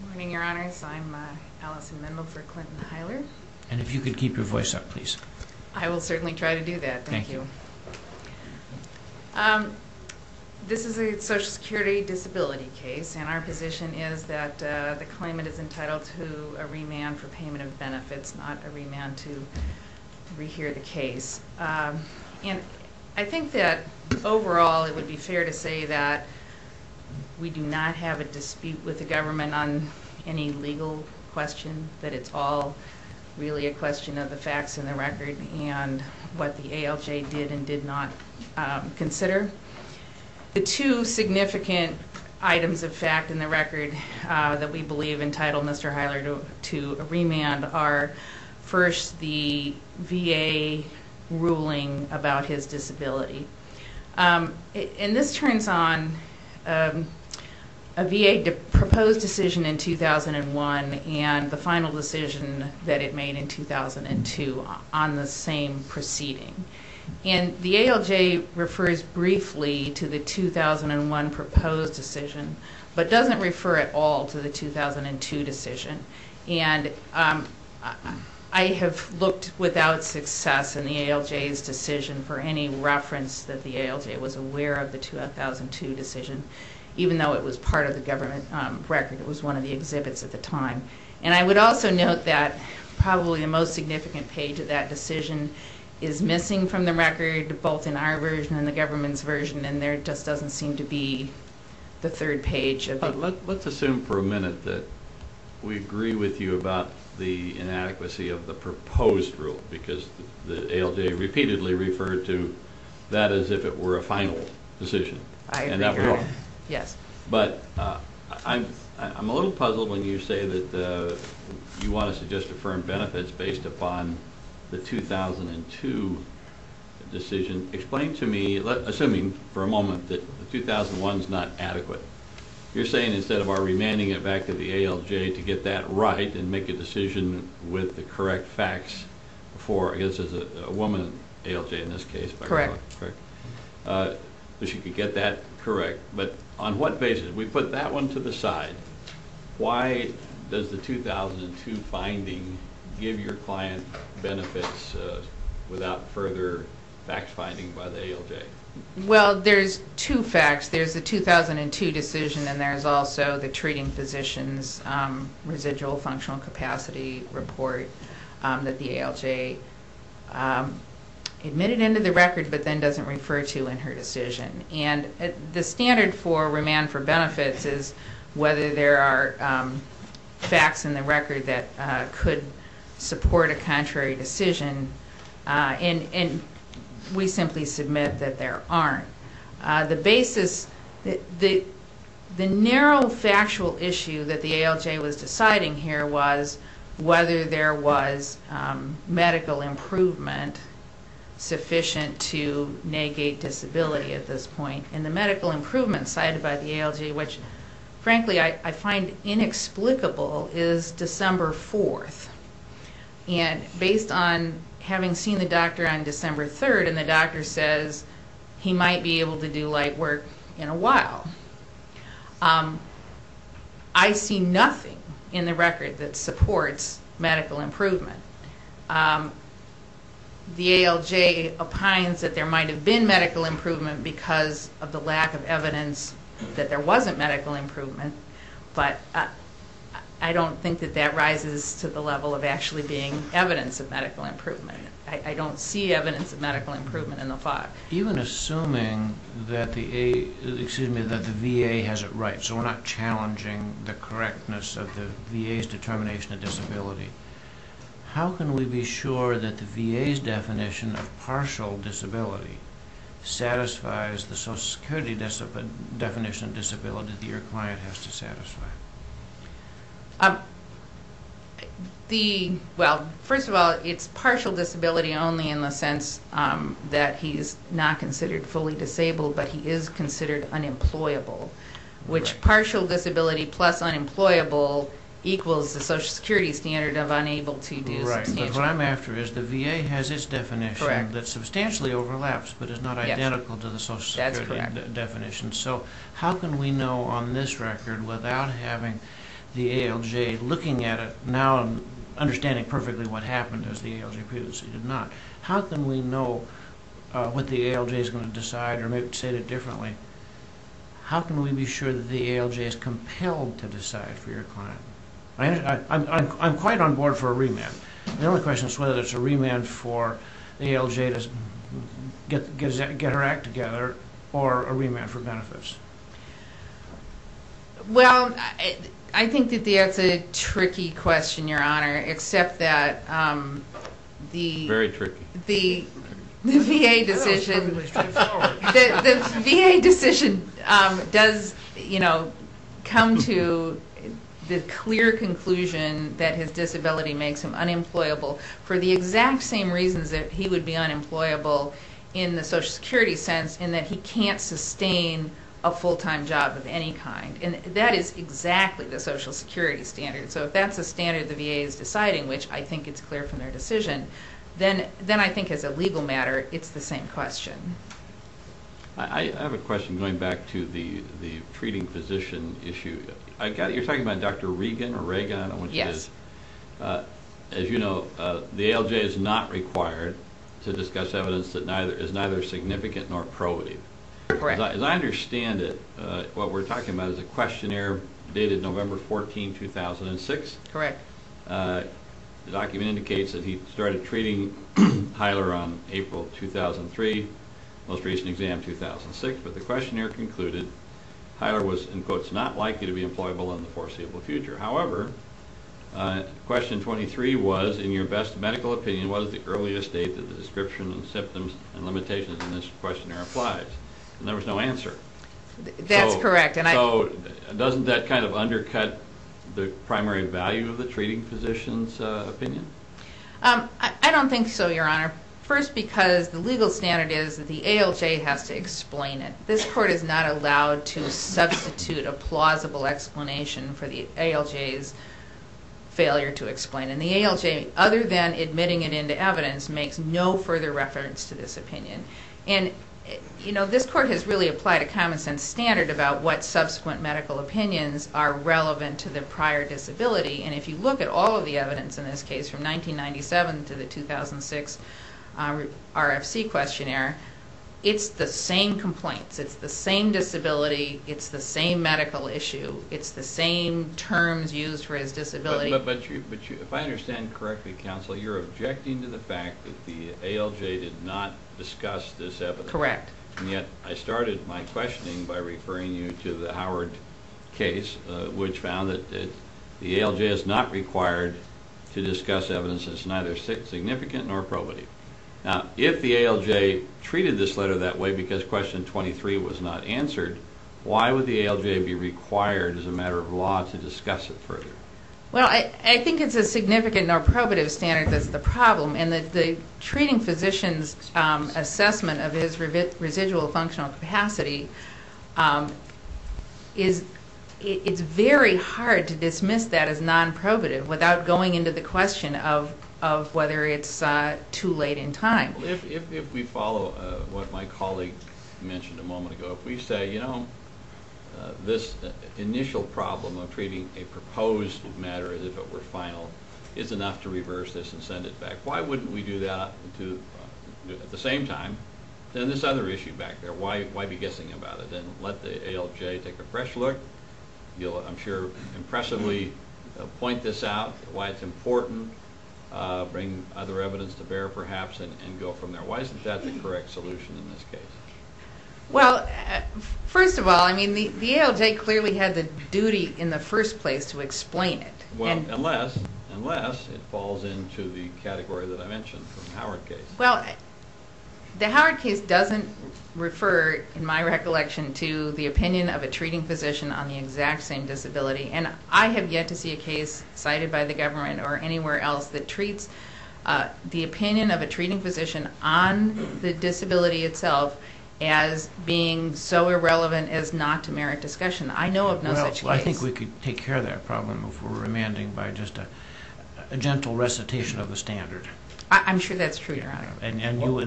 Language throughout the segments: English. Good morning, Your Honors. I'm Alison Minow for Clinton-Hiler. And if you could keep your voice up, please. I will certainly try to do that. Thank you. This is a Social Security disability case, and our position is that the claimant is entitled to a remand for payment of benefits, not a remand to rehear the case. And I think that overall it would be fair to say that we do not have a dispute with the government on any legal question, that it's all really a question of the facts in the record and what the ALJ did and did not consider. The two significant items of fact in the record that we believe entitled Mr. Hiler to a remand are, first, the VA ruling about his disability. And this turns on a VA proposed decision in 2001 and the final decision that it made in 2002 on the same proceeding. And the ALJ refers briefly to the 2001 proposed decision, but doesn't refer at all to the 2002 decision. And I have looked without success in the ALJ's decision for any reference that the ALJ was aware of the 2002 decision, even though it was part of the government record. It was one of the exhibits at the time. And I would also note that probably the most significant page of that decision is missing from the record, both in our version and the government's version, and there just doesn't seem to be the third page of it. Let's assume for a minute that we agree with you about the inadequacy of the proposed rule, because the ALJ repeatedly referred to that as if it were a final decision. I agree with that, yes. But I'm a little puzzled when you say that you want to suggest affirmed benefits based upon the 2002 decision. Explain to me, assuming for a moment, that the 2001 is not adequate. You're saying instead of our remanding it back to the ALJ to get that right and make a decision with the correct facts for, I guess, as a woman, ALJ in this case. Correct. That she could get that correct. But on what basis? We put that one to the side. Why does the 2002 finding give your client benefits without further fact-finding by the ALJ? Well, there's two facts. There's the 2002 decision, and there's also the treating physician's residual functional capacity report that the ALJ admitted into the record but then doesn't refer to in her decision. The standard for remand for benefits is whether there are facts in the record that could support a contrary decision, and we simply submit that there aren't. The basis, the narrow factual issue that the ALJ was deciding here was whether there was medical improvement sufficient to negate disability at this point. And the medical improvement cited by the ALJ, which frankly I find inexplicable, is December 4th. And based on having seen the doctor on December 3rd, and the doctor says he might be able to do light work in a while, I see nothing in the record that supports medical improvement. The ALJ opines that there might have been medical improvement because of the lack of evidence that there wasn't medical improvement. But I don't think that that rises to the level of actually being evidence of medical improvement. I don't see evidence of medical improvement in the file. Even assuming that the VA has it right, so we're not challenging the correctness of the VA's determination of disability, how can we be sure that the VA's definition of partial disability satisfies the Social Security definition of disability that your client has to satisfy? Well, first of all, it's partial disability only in the sense that he's not considered fully disabled, but he is considered unemployable. Which partial disability plus unemployable equals the Social Security standard of unable to do substantial work. Right, but what I'm after is the VA has its definition that substantially overlaps, but is not identical to the Social Security definition. So how can we know on this record, without having the ALJ looking at it, now understanding perfectly what happened as the ALJ previously did not, how can we know what the ALJ is going to decide, or maybe say it differently, how can we be sure that the ALJ is compelled to decide for your client? I'm quite on board for a remand. The only question is whether it's a remand for the ALJ to get her act together, or a remand for benefits. Well, I think that that's a tricky question, Your Honor, except that the VA decision does come to the clear conclusion that his disability makes him unemployable, for the exact same reasons that he would be unemployable in the Social Security sense, in that he can't sustain a full-time job of any kind. And that is exactly the Social Security standard. So if that's a standard the VA is deciding, which I think it's clear from their decision, then I think as a legal matter, it's the same question. I have a question going back to the treating physician issue. You're talking about Dr. Regan, I don't know which it is. Yes. As you know, the ALJ is not required to discuss evidence that is neither significant nor probative. Correct. As I understand it, what we're talking about is a questionnaire dated November 14, 2006. Correct. The document indicates that he started treating Hyler on April 2003, most recent exam 2006. But the questionnaire concluded, Hyler was, in quotes, not likely to be employable in the foreseeable future. However, question 23 was, in your best medical opinion, what is the earliest date that the description of symptoms and limitations in this questionnaire applies? And there was no answer. That's correct. So doesn't that kind of undercut the primary value of the treating physician's opinion? I don't think so, Your Honor. First, because the legal standard is that the ALJ has to explain it. This court is not allowed to substitute a plausible explanation for the ALJ's failure to explain. And the ALJ, other than admitting it into evidence, makes no further reference to this opinion. And, you know, this court has really applied a common-sense standard about what subsequent medical opinions are relevant to the prior disability. And if you look at all of the evidence in this case, from 1997 to the 2006 RFC questionnaire, it's the same complaints. It's the same disability. It's the same medical issue. It's the same terms used for his disability. But if I understand correctly, counsel, you're objecting to the fact that the ALJ did not discuss this evidence. Correct. And yet I started my questioning by referring you to the Howard case, which found that the ALJ is not required to discuss evidence that's neither significant nor probative. Now, if the ALJ treated this letter that way because question 23 was not answered, why would the ALJ be required as a matter of law to discuss it further? Well, I think it's a significant nor probative standard that's the problem. And the treating physician's assessment of his residual functional capacity, it's very hard to dismiss that as non-probative without going into the question of whether it's too late in time. If we follow what my colleague mentioned a moment ago, if we say, you know, this initial problem of treating a proposed matter as if it were final is enough to reverse this and send it back, why wouldn't we do that at the same time? Then this other issue back there, why be guessing about it? And let the ALJ take a fresh look. You'll, I'm sure, impressively point this out, why it's important, bring other evidence to bear perhaps, and go from there. Why isn't that the correct solution in this case? Well, first of all, I mean, the ALJ clearly had the duty in the first place to explain it. Well, unless it falls into the category that I mentioned from the Howard case. Well, the Howard case doesn't refer, in my recollection, to the opinion of a treating physician on the exact same disability. And I have yet to see a case cited by the government or anywhere else that treats the opinion of a treating physician on the disability itself as being so irrelevant as not to merit discussion. I know of no such case. Well, I think we could take care of that problem if we're remanding by just a gentle recitation of the standard. I'm sure that's true, Your Honor. And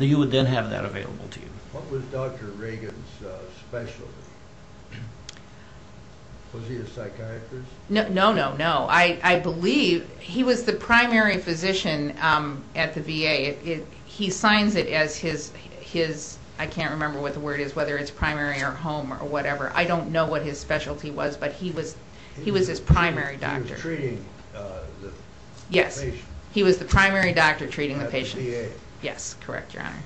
you would then have that available to you. What was Dr. Reagan's specialty? Was he a psychiatrist? No, no, no, no. I believe he was the primary physician at the VA. He signs it as his, I can't remember what the word is, whether it's primary or home or whatever. I don't know what his specialty was, but he was his primary doctor. He was treating the patient. He was the primary doctor treating the patient. At the VA. Yes, correct, Your Honor.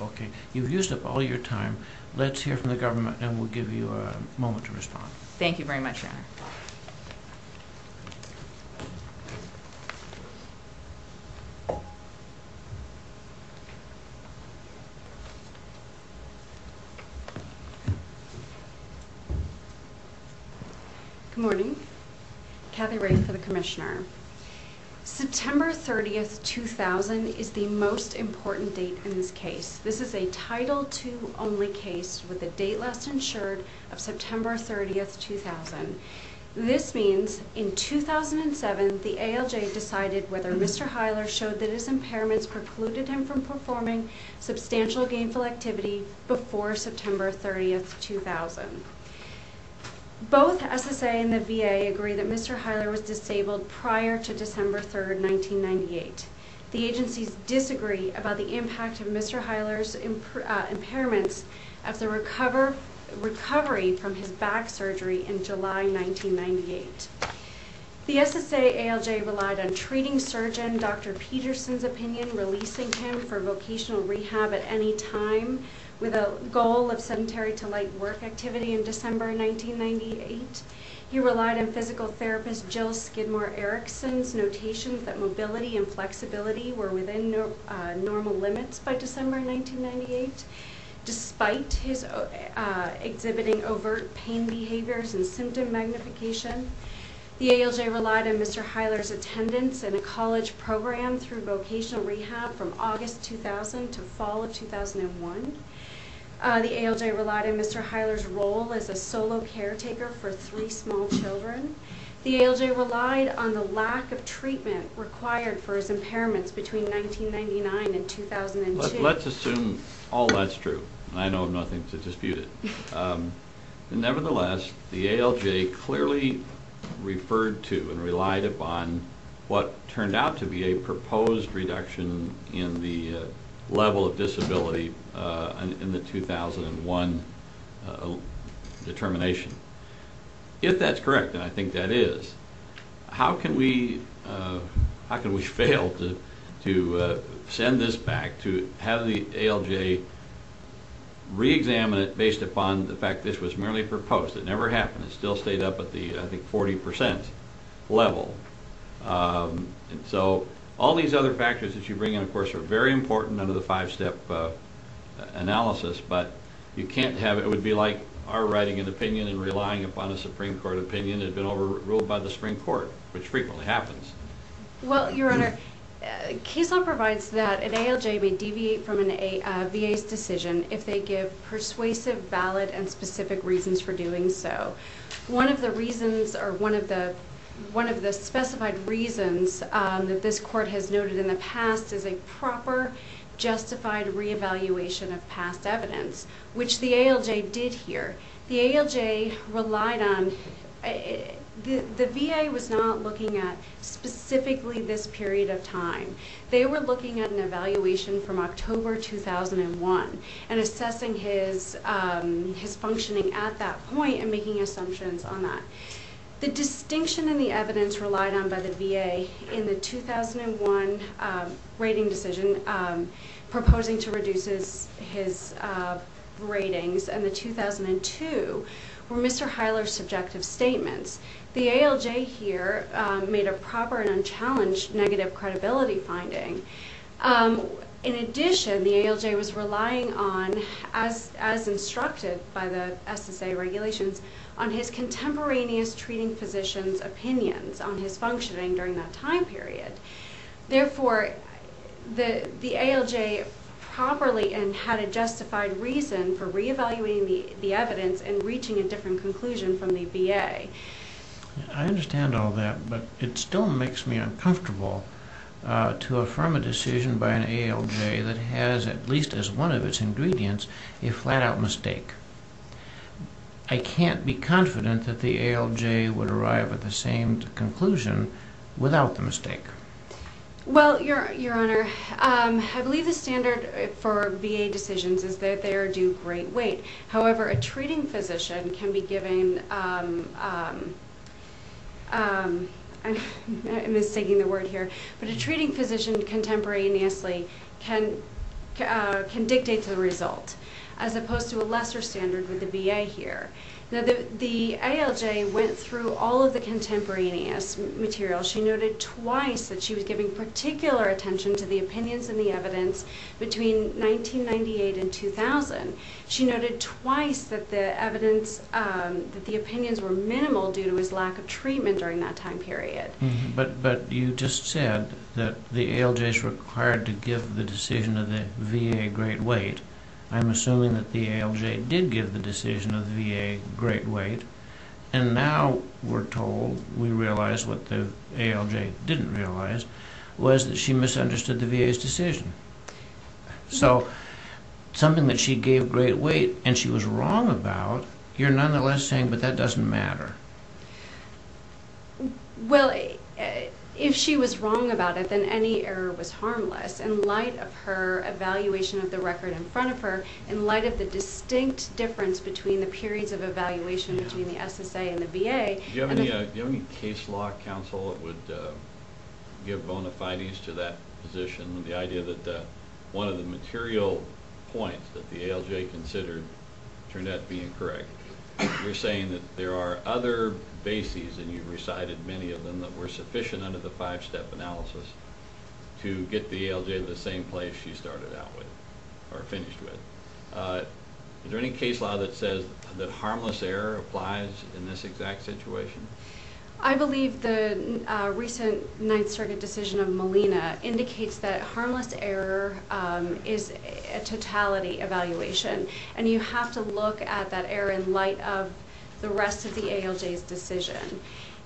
Okay. You've used up all your time. Let's hear from the government, and we'll give you a moment to respond. Thank you very much, Your Honor. Good morning. Kathy Reagan for the Commissioner. September 30, 2000 is the most important date in this case. This is a Title II only case with a date last insured of September 30, 2000. This means in 2007, the ALJ decided whether Mr. Heiler showed that his impairments precluded him from performing substantial gainful activity before September 30, 2000. Both SSA and the VA agree that Mr. Heiler was disabled prior to December 3, 1998. The agencies disagree about the impact of Mr. Heiler's impairments of the recovery from his back surgery in July 1998. The SSA ALJ relied on treating surgeon Dr. Peterson's opinion, releasing him for vocational rehab at any time with a goal of sedentary to light work activity in December 1998. He relied on physical therapist Jill Skidmore Erickson's notation that mobility and flexibility were within normal limits by December 1998. Despite his exhibiting overt pain behaviors and symptom magnification, the ALJ relied on Mr. Heiler's attendance in a college program through vocational rehab from August 2000 to fall of 2001. The ALJ relied on Mr. Heiler's role as a solo caretaker for three small children. The ALJ relied on the lack of treatment required for his impairments between 1999 and 2002. Let's assume all that's true. I know of nothing to dispute it. Nevertheless, the ALJ clearly referred to and relied upon what turned out to be a proposed reduction in the level of disability in the 2001 determination. If that's correct, and I think that is, how can we fail to send this back, to have the ALJ re-examine it based upon the fact that this was merely proposed? It never happened. It still stayed up at the, I think, 40% level. So all these other factors that you bring in, of course, are very important under the five-step analysis, but you can't have, it would be like our writing an opinion and relying upon a Supreme Court opinion had been overruled by the Supreme Court, which frequently happens. Well, Your Honor, Casel provides that an ALJ may deviate from a VA's decision if they give persuasive, valid, and specific reasons for doing so. One of the reasons, or one of the specified reasons that this court has noted in the past is a proper, justified re-evaluation of past evidence, which the ALJ did here. The ALJ relied on, the VA was not looking at specifically this period of time. They were looking at an evaluation from October 2001 and assessing his functioning at that point and making assumptions on that. The distinction in the evidence relied on by the VA in the 2001 rating decision proposing to reduce his ratings and the 2002 were Mr. Heiler's subjective statements. The ALJ here made a proper and unchallenged negative credibility finding. In addition, the ALJ was relying on, as instructed by the SSA regulations, on his contemporaneous treating physician's opinions on his functioning during that time period. Therefore, the ALJ properly and had a justified reason for re-evaluating the evidence and reaching a different conclusion from the VA. I understand all that, but it still makes me uncomfortable to affirm a decision by an ALJ that has, at least as one of its ingredients, a flat-out mistake. I can't be confident that the ALJ would arrive at the same conclusion without the mistake. Well, Your Honor, I believe the standard for VA decisions is that they are due great weight. However, a treating physician contemporaneously can dictate the result, as opposed to a lesser standard with the VA here. The ALJ went through all of the contemporaneous material. She noted twice that she was giving particular attention to the opinions in the evidence between 1998 and 2000. She noted twice that the opinions were minimal due to his lack of treatment during that time period. But you just said that the ALJ is required to give the decision of the VA great weight. I'm assuming that the ALJ did give the decision of the VA great weight. And now we're told, we realize what the ALJ didn't realize, was that she misunderstood the VA's decision. So something that she gave great weight and she was wrong about, you're nonetheless saying, but that doesn't matter. Well, if she was wrong about it, then any error was harmless. In light of her evaluation of the record in front of her, in light of the distinct difference between the periods of evaluation between the SSA and the VA. Do you have any case law, counsel, that would give bona fides to that position? The idea that one of the material points that the ALJ considered turned out to be incorrect. You're saying that there are other bases, and you recited many of them, that were sufficient under the five-step analysis to get the ALJ to the same place she started out with, or finished with. Is there any case law that says that harmless error applies in this exact situation? I believe the recent Ninth Circuit decision of Molina indicates that harmless error is a totality evaluation. And you have to look at that error in light of the rest of the ALJ's decision.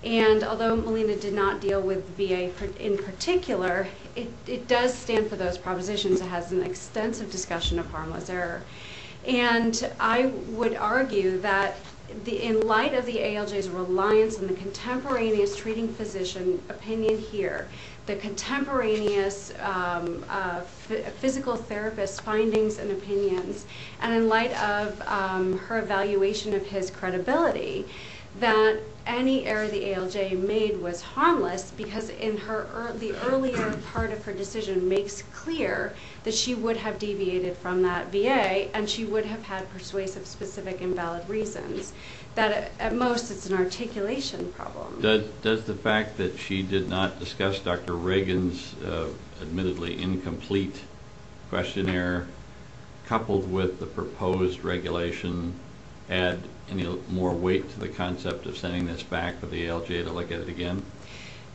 And although Molina did not deal with VA in particular, it does stand for those propositions. It has an extensive discussion of harmless error. And I would argue that in light of the ALJ's reliance on the contemporaneous treating physician opinion here, the contemporaneous physical therapist findings and opinions, and in light of her evaluation of his credibility, that any error the ALJ made was harmless, because the earlier part of her decision makes clear that she would have deviated from that VA, and she would have had persuasive, specific, and valid reasons. At most, it's an articulation problem. Does the fact that she did not discuss Dr. Reagan's admittedly incomplete questionnaire, coupled with the proposed regulation, add any more weight to the concept of sending this back to the ALJ to look at it again?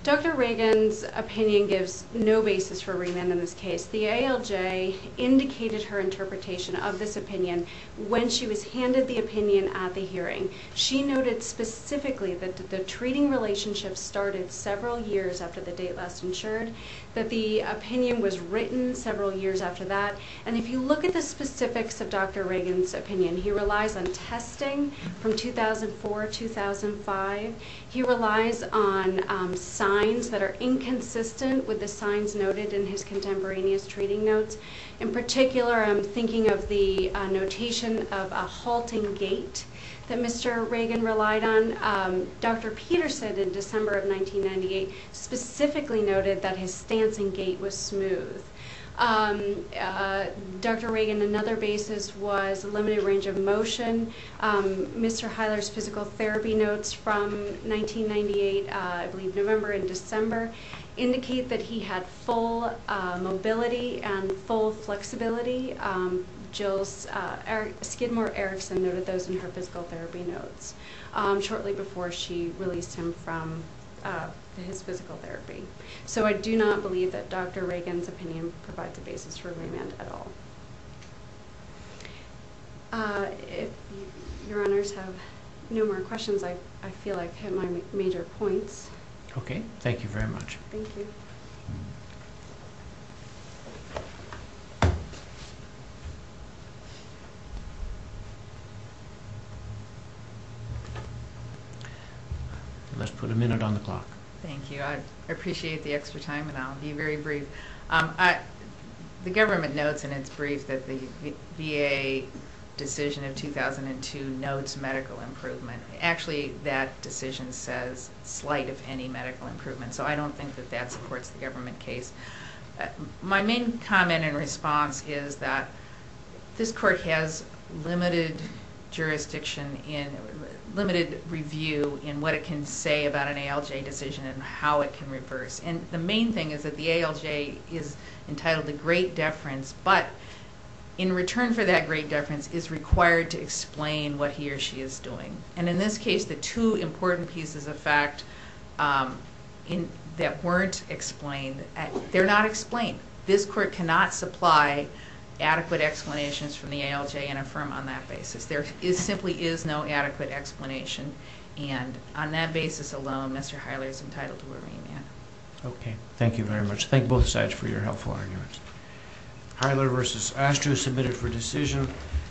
Dr. Reagan's opinion gives no basis for remand in this case. The ALJ indicated her interpretation of this opinion when she was handed the opinion at the hearing. She noted specifically that the treating relationship started several years after the date last insured, that the opinion was written several years after that. And if you look at the specifics of Dr. Reagan's opinion, he relies on testing from 2004-2005. He relies on signs that are inconsistent with the signs noted in his contemporaneous treating notes. In particular, I'm thinking of the notation of a halting gait that Mr. Reagan relied on. Dr. Peterson, in December of 1998, specifically noted that his stance in gait was smooth. Dr. Reagan, another basis was a limited range of motion. Mr. Heiler's physical therapy notes from 1998, I believe November and December, indicate that he had full mobility and full flexibility. Skidmore Erickson noted those in her physical therapy notes shortly before she released him from his physical therapy. So I do not believe that Dr. Reagan's opinion provides a basis for remand at all. If your honors have no more questions, I feel I've hit my major points. Okay. Thank you very much. Thank you. Let's put a minute on the clock. Thank you. I appreciate the extra time and I'll be very brief. The government notes in its brief that the VA decision of 2002 notes medical improvement. Actually, that decision says slight, if any, medical improvement. So I don't think that that supports the government case. My main comment and response is that this court has limited jurisdiction and limited review in what it can say about an ALJ decision and how it can reverse. And the main thing is that the ALJ is entitled to great deference, but in return for that great deference is required to explain what he or she is doing. And in this case, the two important pieces of fact that weren't explained, they're not explained. This court cannot supply adequate explanations from the ALJ and affirm on that basis. There simply is no adequate explanation. And on that basis alone, Mr. Heiler is entitled to a remand. Okay. Thank you very much. Thank both sides for your helpful arguments. Heiler v. Astro, submitted for decision.